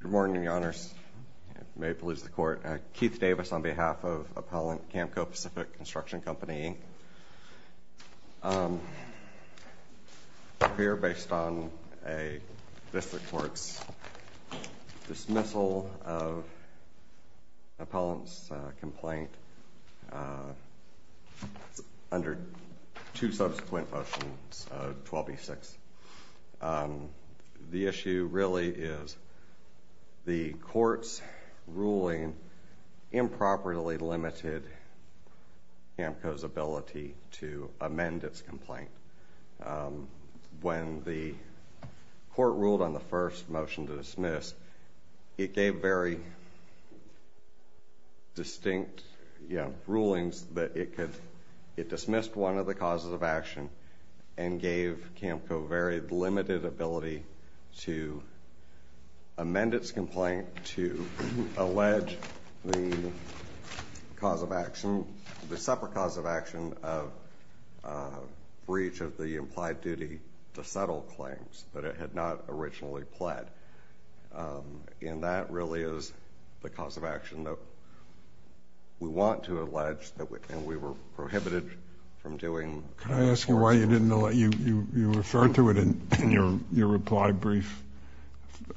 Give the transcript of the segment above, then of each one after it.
Good morning, Your Honors. May it please the Court. Keith Davis on behalf of Appellant Camco Pacific Construction Company. I'm here based on a District Court's dismissal of the The issue really is the Court's ruling improperly limited Camco's ability to amend its complaint. When the Court ruled on the first motion to dismiss, it gave very distinct rulings that it dismissed one of the causes of action and gave Camco very limited ability to amend its complaint to allege the cause of action, the separate cause of action of breach of the implied duty to settle claims that it had not originally pled. And that really is the cause of action that we want to allege, and we were prohibited from doing. Can I ask you why you didn't allege? You referred to it in your reply brief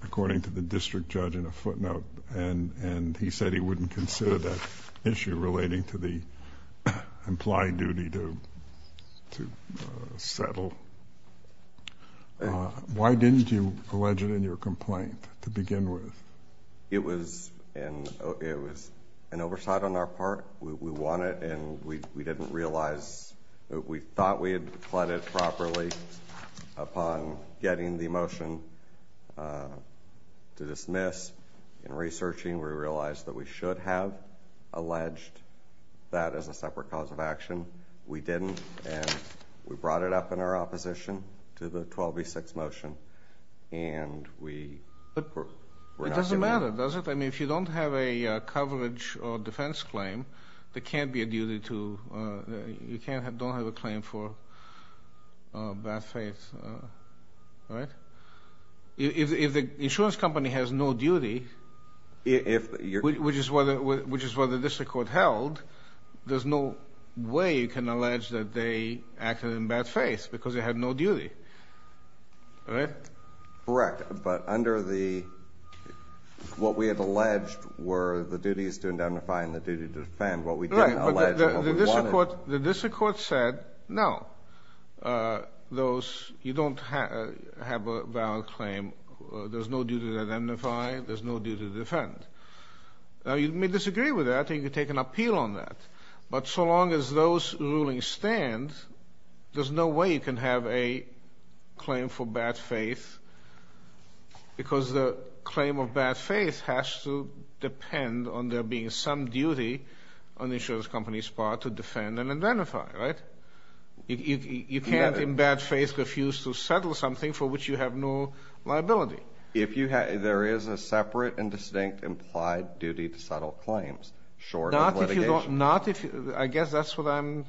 according to the District Judge in a footnote, and he said he wouldn't consider that issue relating to the implied duty to settle. Why didn't you allege it in your complaint to begin with? It was an oversight on our part. We want it, and we didn't realize. We thought we had pled it properly upon getting the motion to dismiss. In researching, we realized that we should have alleged that as a separate cause of action. We didn't, and we brought it up in our opposition to the 12v6 motion. It doesn't matter, does it? If you don't have a coverage or defense claim, you don't have a claim for bad faith. If the insurance company has no duty, which is what the District Court held, there's no way you can allege that they acted in bad faith because they had no duty. Correct, but under what we had alleged were the duties to identify and the duty to defend, what we didn't allege was what we wanted. The District Court said, no, you don't have a valid claim. There's no duty to identify. There's no duty to defend. Now, you may disagree with that, and you can take an appeal on that, but so long as those rulings stand, there's no way you can have a claim for bad faith because the claim of bad faith has to depend on there being some duty on the insurance company's part to defend and identify, right? You can't, in bad faith, refuse to settle something for which you have no liability. If you have, there is a separate and distinct implied duty to settle claims short of litigation. I guess that's what I'm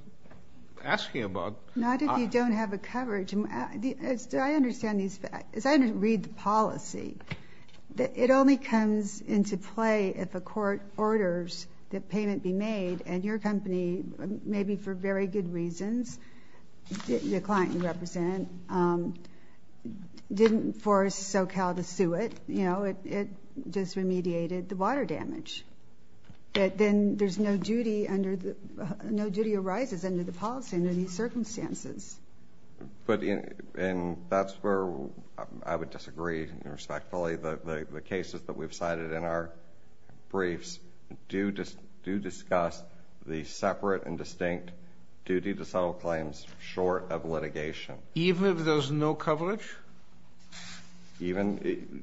asking about. Not if you don't have a coverage. As I read the policy, it only comes into play if a court orders that payment be made, and your company, maybe for very good reasons, the client you represent, didn't force SoCal to sue it. It just remediated the water damage. Then there's no duty under the, no duty arises under the policy under these circumstances. And that's where I would disagree, respectfully. The cases that we've cited in our briefs do discuss the separate and distinct duty to settle claims short of litigation. Even if there's no coverage? Even,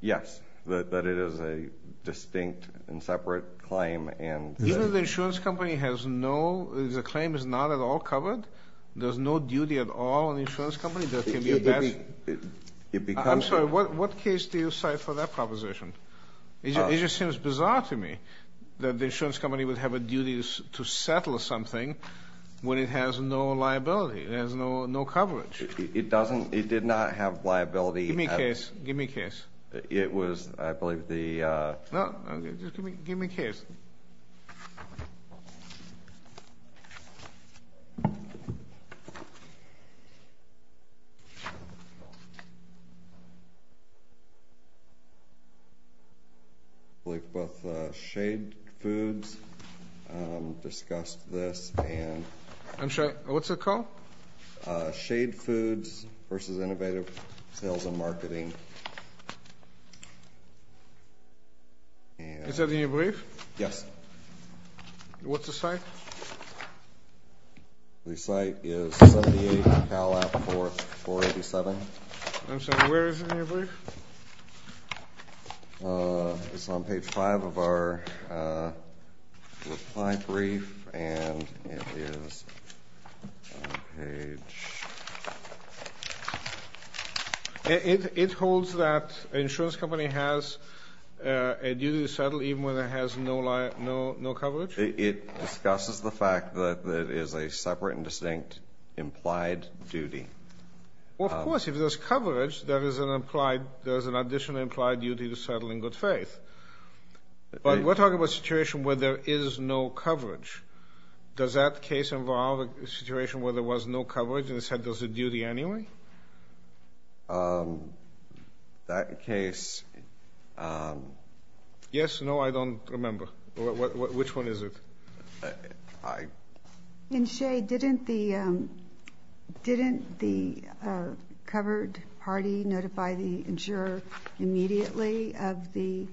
yes, that it is a distinct and separate claim and Even if the insurance company has no, the claim is not at all covered? There's no duty at all in the insurance company that can be a bad, I'm sorry, what case do you cite for that proposition? It just seems bizarre to me that the insurance company would have a duty to settle something when it has no liability, it has no coverage. It doesn't, it did not have liability. Give me a case, give me a case. It was, I believe the No, just give me a case. I believe both Shade Foods discussed this and I'm sorry, what's it called? Shade Foods versus Innovative Sales and Marketing Is that in your brief? Yes. What's the site? The site is 78 Palapp 487 I'm sorry, where is it in your brief? It's on page 5 of our reply brief and it is On page It holds that the insurance company has a duty to settle even when it has no coverage? It discusses the fact that it is a separate and distinct implied duty Well of course, if there's coverage, there is an additional implied duty to settle in good faith But we're talking about a situation where there is no coverage Does that case involve a situation where there was no coverage and it said there's a duty anyway? That case Yes, no, I don't remember. Which one is it? In Shade, didn't the covered party notify the insurer immediately of the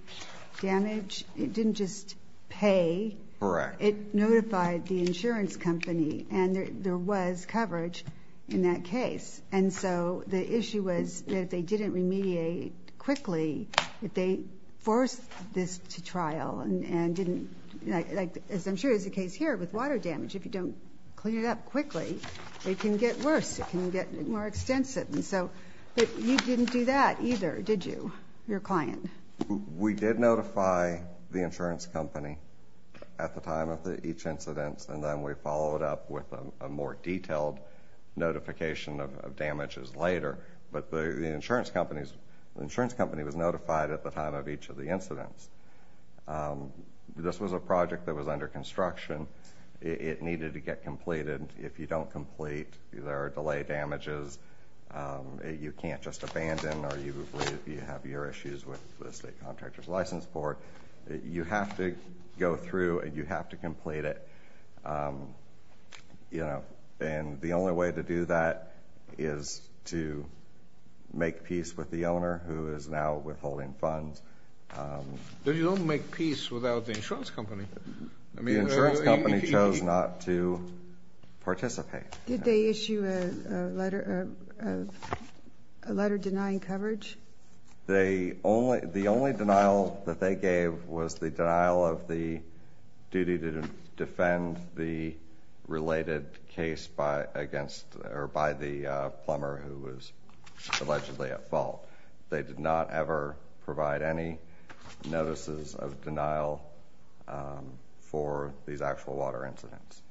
damage? It didn't just pay Correct It notified the insurance company and there was coverage in that case And so the issue was that they didn't remediate quickly They forced this to trial As I'm sure is the case here with water damage, if you don't clean it up quickly, it can get worse It can get more extensive But you didn't do that either, did you? Your client We did notify the insurance company at the time of each incident And then we followed up with a more detailed notification of damages later But the insurance company was notified at the time of each of the incidents This was a project that was under construction It needed to get completed If you don't complete, there are delay damages You can't just abandon or you have your issues with the state contractor's license board You have to go through and you have to complete it And the only way to do that is to make peace with the owner who is now withholding funds But you don't make peace without the insurance company The insurance company chose not to participate Did they issue a letter denying coverage? The only denial that they gave was the denial of the duty to defend the related case by the plumber who was allegedly at fault They did not ever provide any notices of denial for these actual water incidents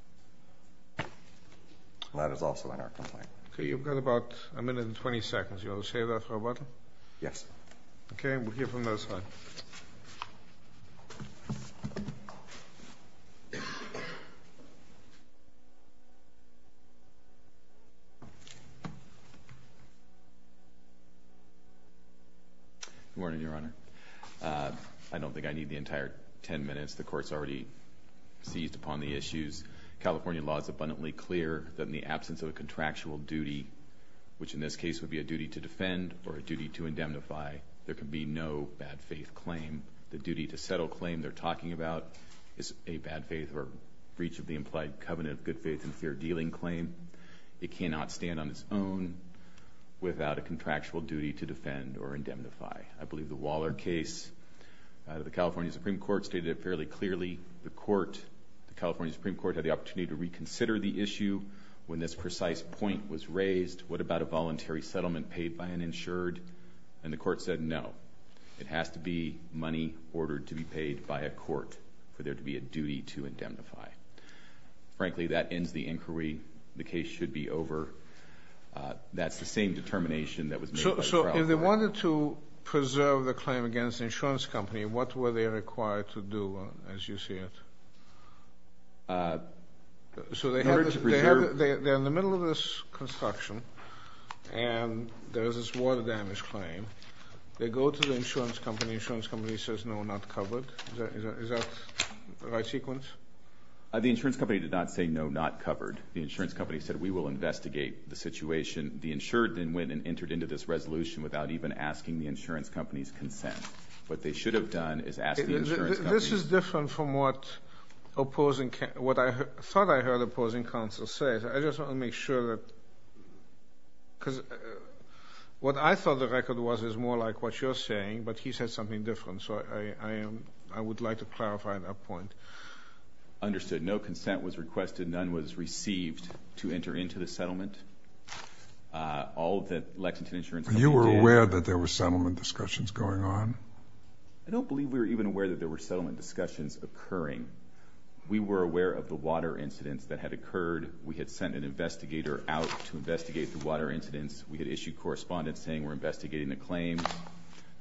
That is also in our complaint You've got about a minute and 20 seconds Do you want to say that, Roberto? Yes Okay, we'll hear from this side Good morning, Your Honor I don't think I need the entire 10 minutes The Court's already seized upon the issues California law is abundantly clear That in the absence of a contractual duty Which in this case would be a duty to defend or a duty to indemnify There can be no bad faith claim The duty to settle claim they're talking about Is a bad faith or breach of the implied covenant of good faith and fair dealing claim It cannot stand on its own without a contractual duty to defend or indemnify I believe the Waller case The California Supreme Court stated it fairly clearly The Court, the California Supreme Court Had the opportunity to reconsider the issue When this precise point was raised What about a voluntary settlement paid by an insured? And the Court said no It has to be money ordered to be paid by a court For there to be a duty to indemnify Frankly, that ends the inquiry The case should be over That's the same determination So if they wanted to preserve the claim against the insurance company What were they required to do as you see it? They're in the middle of this construction And there's this water damage claim They go to the insurance company The insurance company says no, not covered Is that the right sequence? The insurance company did not say no, not covered The insurance company said we will investigate the situation Without even asking the insurance company's consent What they should have done is ask the insurance company This is different from what What I thought I heard the opposing counsel say I just want to make sure that What I thought the record was is more like what you're saying But he said something different So I would like to clarify that point Understood, no consent was requested None was received to enter into the settlement All that Lexington Insurance Company did Were you aware that there were settlement discussions going on? I don't believe we were even aware that there were settlement discussions occurring We were aware of the water incidents that had occurred We had sent an investigator out to investigate the water incidents We had issued correspondence saying we're investigating the claims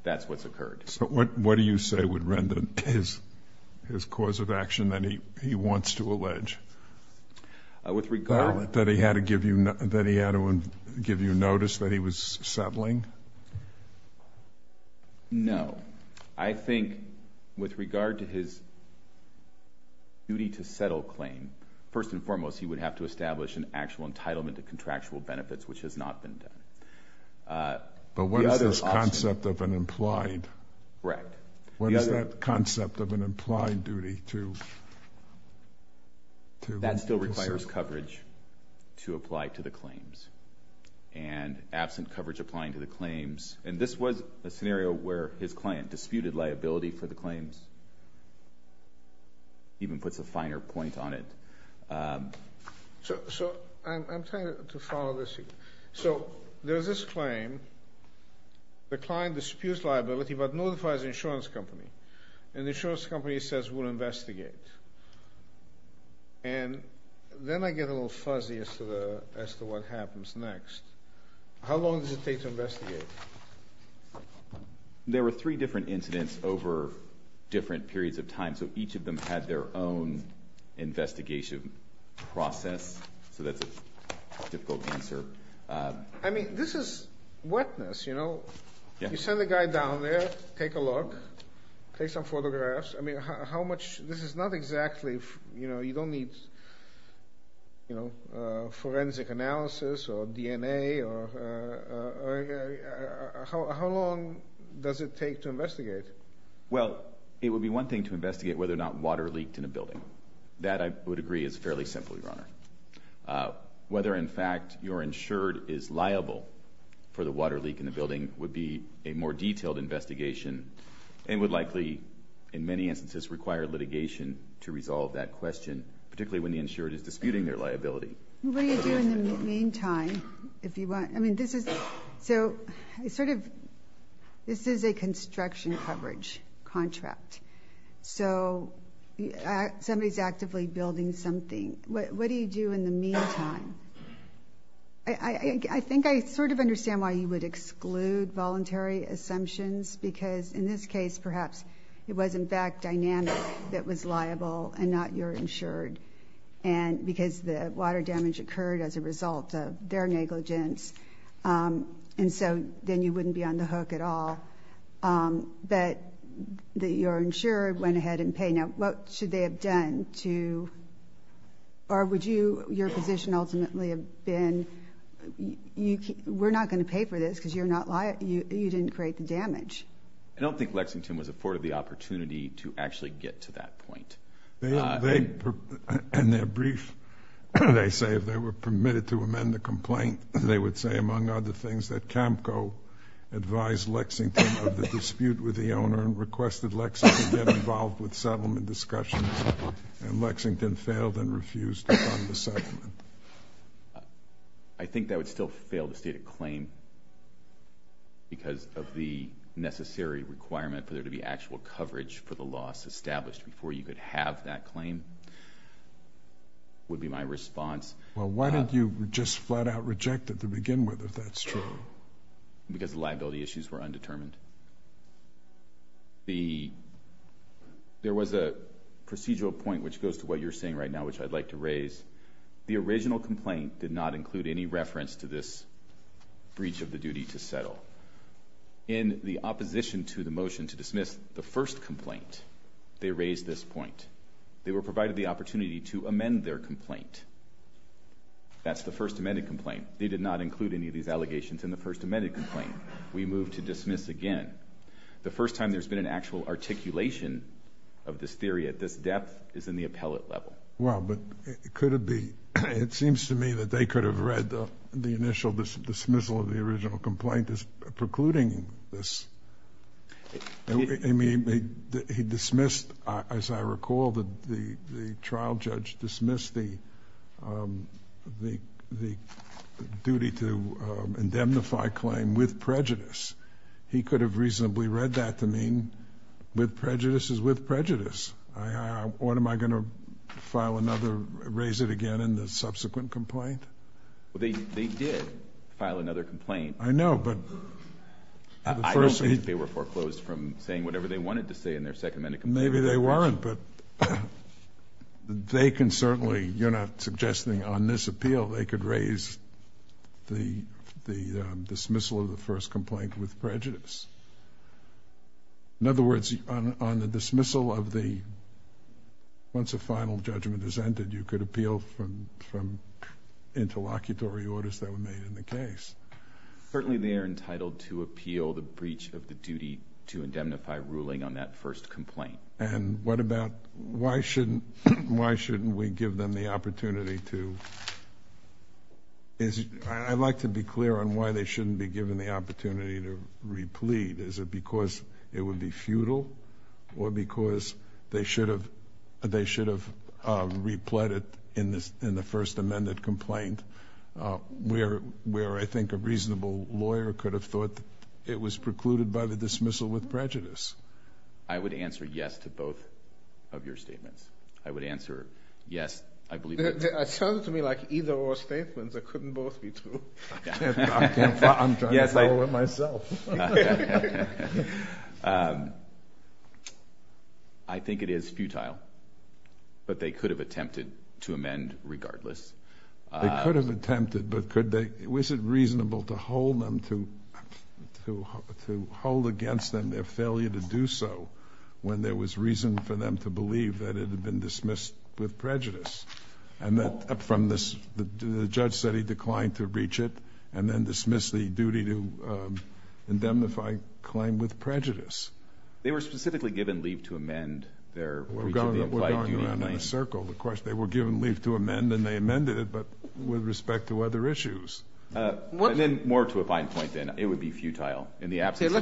That's what's occurred So what do you say would render his His cause of action that he wants to allege? That he had to give you notice that he was settling? No I think with regard to his Duty to settle claim First and foremost he would have to establish An actual entitlement to contractual benefits Which has not been done But what is this concept of an implied? Right What is that concept of an implied duty to That still requires coverage To apply to the claims And absent coverage applying to the claims And this was a scenario where his client Disputed liability for the claims Even puts a finer point on it So I'm trying to follow this So there's this claim The client disputes liability but notifies the insurance company And the insurance company says we'll investigate And then I get a little fuzzy as to the As to what happens next How long does it take to investigate? There were three different incidents over Different periods of time So each of them had their own Investigation process So that's a difficult answer I mean this is Wetness you know You send a guy down there Take a look Take some photographs I mean how much This is not exactly You don't need Forensic analysis Or DNA How long Does it take to investigate? Well it would be one thing to investigate Whether or not water leaked in a building That I would agree is fairly simple Whether in fact You're insured is liable For the water leak in the building Would be a more detailed investigation And would likely In many instances require litigation To resolve that question Particularly when the insured is disputing their liability What do you do in the meantime? If you want So This is a construction coverage Contract So Somebody is actively building something What do you do in the meantime? I think I sort of understand why you would exclude Voluntary assumptions Because in this case perhaps It was in fact dynamic That was liable and not you're insured And because the water damage Occurred as a result of Their negligence And so then you wouldn't be on the hook At all That you're insured Went ahead and paid Now what should they have done Or would you Your position ultimately have been We're not going to pay for this Because you're not liable You didn't create the damage I don't think Lexington was afforded the opportunity To actually get to that point In their brief They say if they were permitted To amend the complaint They would say among other things That CAMCO advised Lexington Of the dispute with the owner And requested Lexington get involved With settlement discussions And Lexington failed and refused To fund the settlement I think that would still fail The stated claim Because of the Necessary requirement for there to be Actual coverage for the loss established Before you could have that claim Would be my response Well why don't you just flat out Reject it to begin with if that's true Because the liability issues Were undetermined The There was a procedural point Which goes to what you're saying right now The original complaint Did not include any reference to this Breach of the duty to settle In the opposition To the motion to dismiss the first complaint They raised this point They were provided the opportunity To amend their complaint That's the first amended complaint They did not include any of these allegations In the first amended complaint We move to dismiss again The first time there's been an actual articulation Of this theory at this depth Is in the appellate level Well but could it be It seems to me that they could have read The initial dismissal of the original complaint As precluding this I mean He dismissed As I recall The trial judge dismissed The Duty to Indemnify claim with prejudice He could have reasonably read that To mean with prejudice This is with prejudice What am I going to Raise it again in the subsequent complaint They did File another complaint I know but I don't think they were foreclosed from saying Whatever they wanted to say in their second amended complaint Maybe they weren't but They can certainly You're not suggesting on this appeal They could raise The dismissal of the first complaint With prejudice In other words On the dismissal of the Once the final Judgment has ended you could appeal From Interlocutory orders that were made in the case Certainly they are entitled to Appeal the breach of the duty To indemnify ruling on that first complaint And what about Why shouldn't We give them the opportunity to I'd like To be clear on why they shouldn't be given The opportunity to replete Is it because it would be futile Or because They should have Repleted in the First amended complaint Where I think a reasonable Lawyer could have thought It was precluded by the dismissal with prejudice I would answer yes To both of your statements I would answer yes I believe it sounded to me like either Or statements that couldn't both be true I'm trying to follow it myself I think it is Futile But they could have attempted to amend regardless They could have attempted But was it reasonable To hold them To hold against them Their failure to do so When there was reason for them to believe That it had been dismissed with prejudice And that from this The judge said he declined to reach it And then dismiss the duty to Indemnify Claim with prejudice They were specifically given leave to amend We're going around in a circle They were given leave to amend And they amended it But with respect to other issues More to a fine point then It would be futile Let's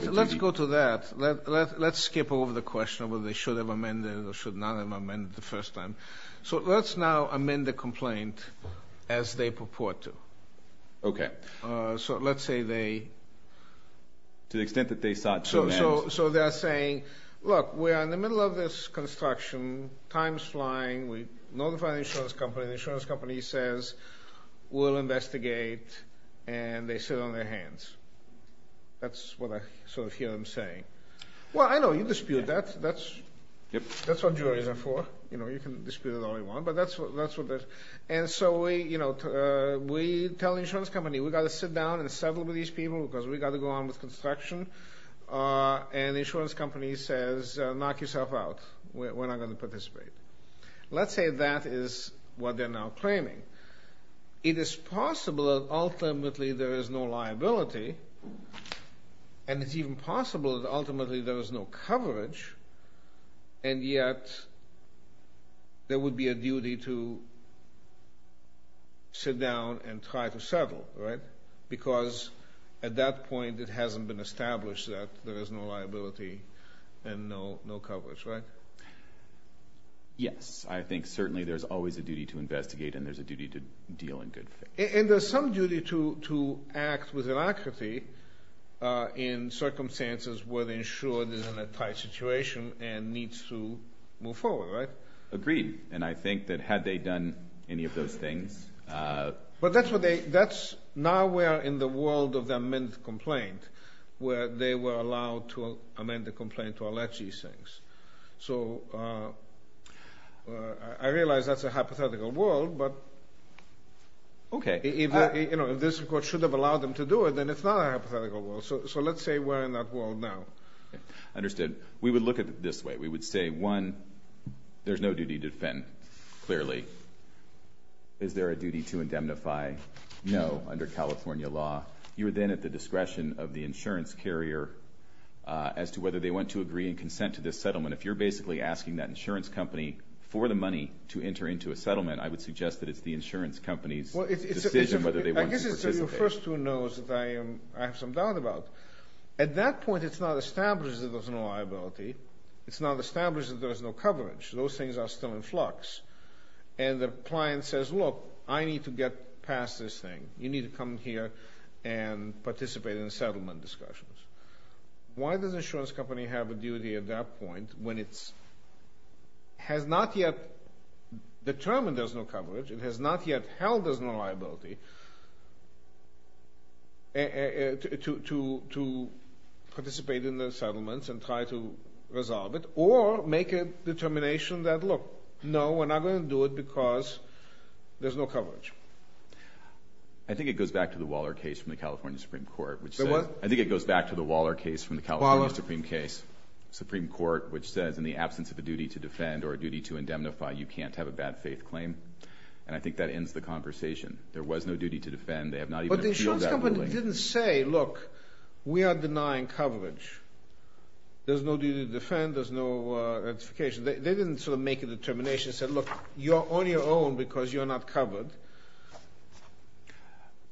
skip over the question Of whether they should have amended Or should not have amended the first time So let's now amend the complaint As they purport to Okay So let's say they To the extent that they sought to amend So they're saying Look we're in the middle of this construction Time's flying We notify the insurance company The insurance company says We'll investigate And they sit on their hands That's what I sort of hear them saying Well I know you dispute that That's what juries are for You can dispute it all you want But that's what they're And so we tell the insurance company We've got to sit down and settle with these people Because we've got to go on with construction And the insurance company says Knock yourself out We're not going to participate Let's say that is What they're now claiming It is possible that ultimately There is no liability And it's even possible That ultimately there is no coverage And yet There would be a duty To Sit down and try to settle Right Because at that point it hasn't been established That there is no liability And no coverage, right Yes I think certainly there's always a duty to investigate And there's a duty to deal in good faith And there's some duty to Act with inaccuracy In circumstances Where the insurer is in a tight situation And needs to Move forward, right Agreed, and I think that had they done Any of those things But that's what they Now we're in the world of the amended complaint Where they were allowed to Amend the complaint to allege these things So I realize that's a hypothetical world But Okay If this court should have allowed them To do it then it's not a hypothetical world So let's say we're in that world now Understood, we would look at it this way We would say one There's no duty to defend, clearly Is there a duty to Indemnify? No Under California law You're then at the discretion of the insurance carrier As to whether they want to agree And consent to this settlement If you're basically asking that insurance company For the money to enter into a settlement I would suggest that it's the insurance company's Decision whether they want to participate I guess it's your first to know I have some doubt about At that point it's not established that there's no liability It's not established that there's no coverage Those things are still in flux And the client says Look, I need to get past this thing You need to come here And participate in the settlement discussions Why does the insurance company Have a duty at that point When it's Has not yet Determined there's no coverage It has not yet held there's no liability To Participate in the settlement And try to resolve it Or make a determination that Look, no, we're not going to do it because There's no coverage I think it goes back to The Waller case from the California Supreme Court I think it goes back to the Waller case From the California Supreme Case From the California Supreme Court Which says in the absence of a duty to defend Or a duty to indemnify You can't have a bad faith claim And I think that ends the conversation There was no duty to defend They have not even appealed that ruling But the insurance company didn't say Look, we are denying coverage There's no duty to defend There's no notification They didn't sort of make a determination They said look, you're on your own Because you're not covered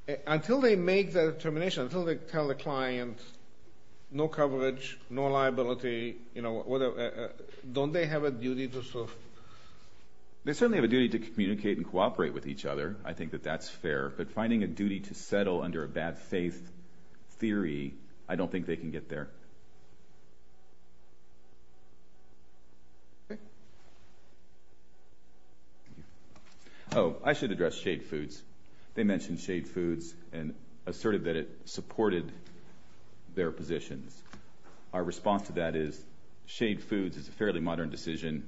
But Until they make that determination Until they tell the client No coverage, no liability You know Don't they have a duty to sort of They certainly have a duty to communicate And cooperate with each other I think that that's fair But finding a duty to settle under a bad faith theory I don't think they can get there Okay Oh, I should address Shade Foods They mentioned Shade Foods And asserted that it supported Their positions Our response to that is Shade Foods is a fairly modern decision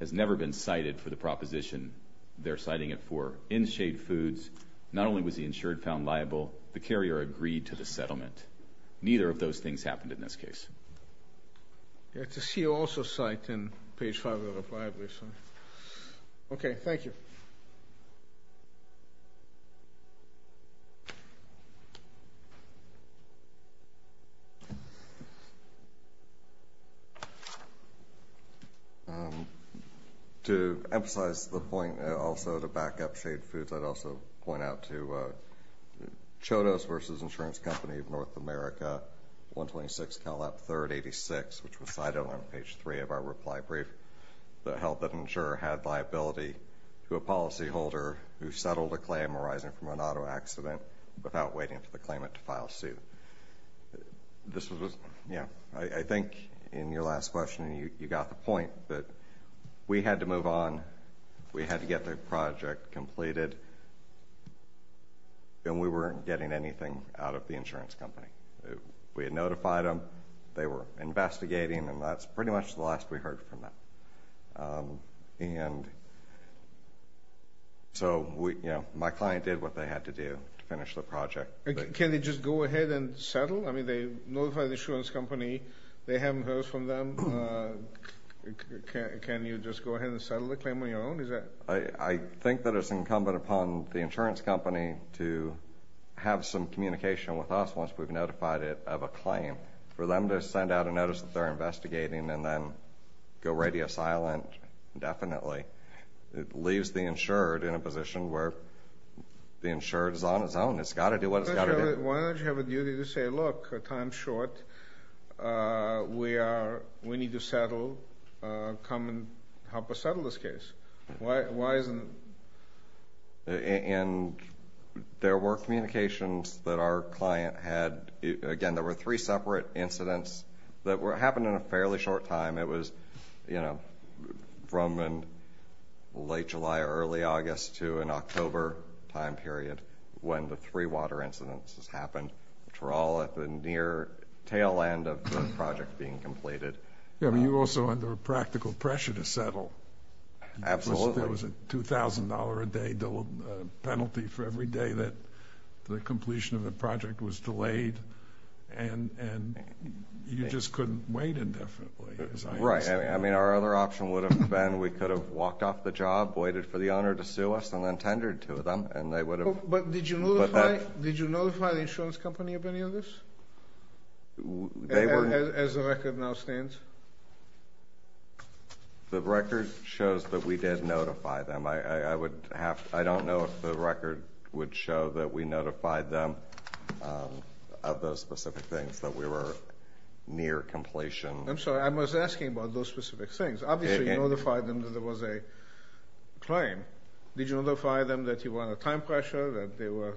Has never been cited For the proposition They're citing it for In Shade Foods, not only was the insured found liable The carrier agreed to the settlement Neither of those things happened In this case Okay, thank you To emphasize the point Also to back up Shade Foods I'd also point out to Kodos versus Insurance Company of North America 126 Cal Lap 3rd 86 Which was cited on page 3 of our reply brief That held that an insurer had liability To a policy holder Who settled a claim arising from an auto accident Without waiting for the claimant To file suit This was, yeah I think in your last question You got the point that We had to move on We had to get the project completed And we weren't Getting anything out of the insurance company We had notified them They were investigating And that's pretty much the last we heard from them And So My client did what they had to do To finish the project Can they just go ahead and settle? I mean they notified the insurance company They haven't heard from them Can you just go ahead And settle the claim on your own? I think that it's incumbent Upon the insurance company To have some communication With us once we've notified it Of a claim For them to send out a notice that they're investigating And then go radio silent Indefinitely It leaves the insured in a position Where the insured is on its own It's got to do what it's got to do Why don't you have a duty to say Look, time's short We need to settle Come And help us settle this case Why isn't And There were communications That our client had Again there were three separate incidents That happened in a fairly short time It was From late July Early August To an October time period When the three water incidents happened Which were all at the near tail end Of the project being completed You were also under practical pressure To settle There was a $2,000 a day Penalty for every day that The completion of the project Was delayed And you just couldn't Wait indefinitely Our other option would have been We could have walked off the job Waited for the owner to sue us And then tendered to them Did you notify the insurance company Of any of this They were As the record now stands The record shows That we did notify them I would have I don't know if the record would show That we notified them Of those specific things That we were near completion I'm sorry I was asking about those specific things Obviously you notified them that there was a Claim Did you notify them that you were under time pressure That they were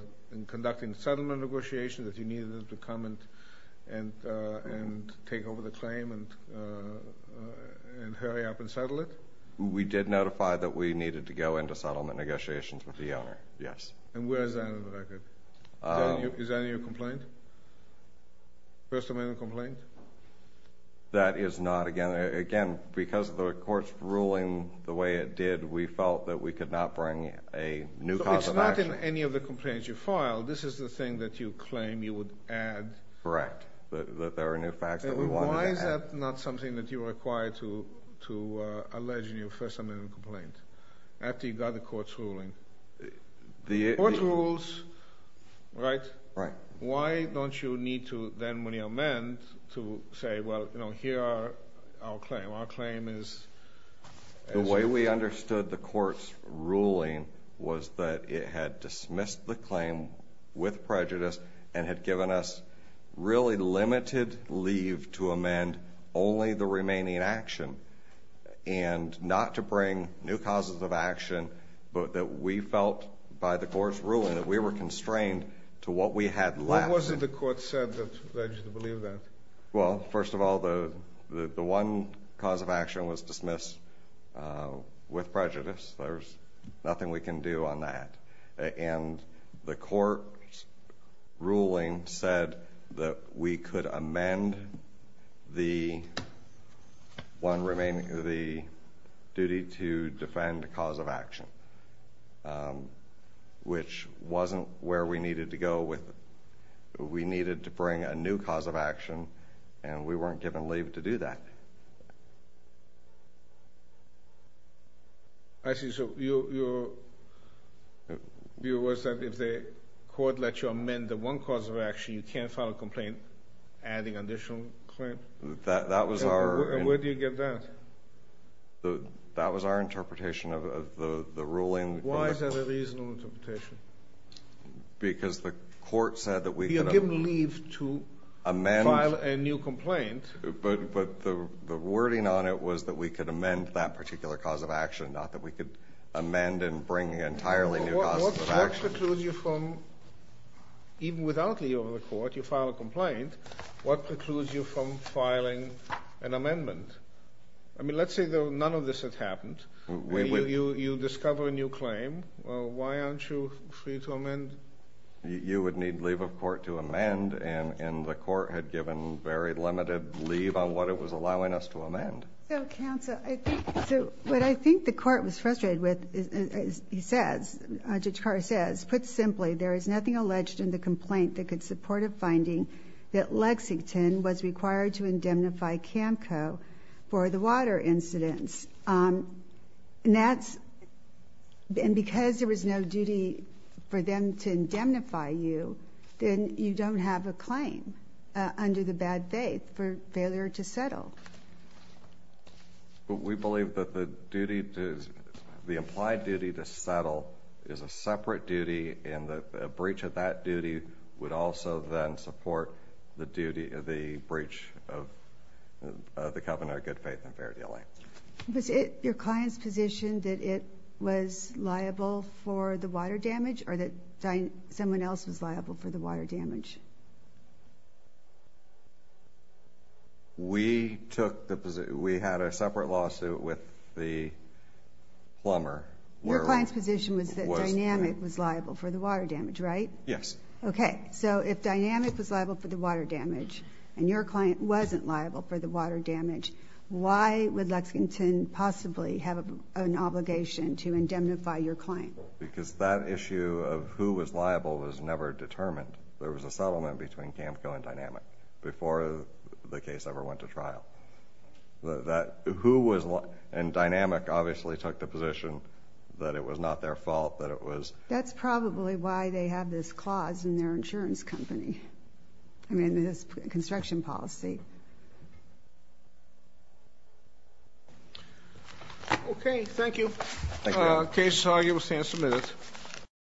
conducting Settlement negotiations That you needed them to come And take over the claim And hurry up and settle it We did notify that we needed To go into settlement negotiations With the owner yes And where is that in the record Is that in your complaint First amendment complaint That is not again Because of the courts ruling The way it did we felt that we could not Bring a new cause of action It's not in any of the complaints you filed This is the thing that you claim you would add Correct That there are new facts Why is that not something that you require To allege in your first amendment complaint After you got the courts ruling The court rules Right Why don't you need to then When you amend To say well you know here are Our claim Our claim The way we understood the courts Ruling was that it had Dismissed the claim With prejudice and had given us Really limited Leave to amend only The remaining action And not to bring new causes Of action but that we Felt by the courts ruling that we Were constrained to what we had Left. What was it the court said that led You to believe that Well first of all The one cause of action was Dismissed With prejudice there's nothing we Can do on that And the court Ruling said that We could amend The One remaining Duty to defend cause of action Which wasn't where we needed To go with We needed to bring A new cause of action And we weren't given leave to do that I see so Your View was that if the Court let you amend the one cause of action You can't file a complaint Adding an additional claim And where do you get that That was our Interpretation of the ruling Why is that a reasonable interpretation Because the Court said that we could Amend But the Wording on it was that we could amend That particular cause of action Not that we could amend and bring Entirely new causes of action Even without Leave of the court you file a complaint What precludes you from filing An amendment I mean let's say none of this had happened You discover a new Reason for you to amend You would need leave of court to amend And the court had given Very limited leave on what it was Allowing us to amend What I think the court Was frustrated with Judge Carr says put simply There is nothing alleged in the complaint That could support a finding That Lexington was required to Indemnify CAMCO For the water incidents And that's And because there was No duty for them to Indemnify you then You don't have a claim Under the bad faith for failure To settle But we believe that the Duty to the implied Duty to settle is a separate Duty and the breach of that Duty would also then Support the duty of the Breach of the Good faith and fair dealing Was it your client's position That it was liable For the water damage or that Someone else was liable for the water damage We took the We had a separate lawsuit with the Plumber Your client's position was that Dynamic Was liable for the water damage right Yes Okay so if Dynamic was liable for the water damage And your client wasn't liable For the water damage Why would Lexington possibly have An obligation to indemnify Your client Because that issue of who was liable Was never determined There was a settlement between CAMCO and Dynamic Before the case ever went to trial Who was liable And Dynamic obviously took the position That it was not their fault That it was That's probably why they have this clause In their insurance company I mean this construction policy Okay thank you Thank you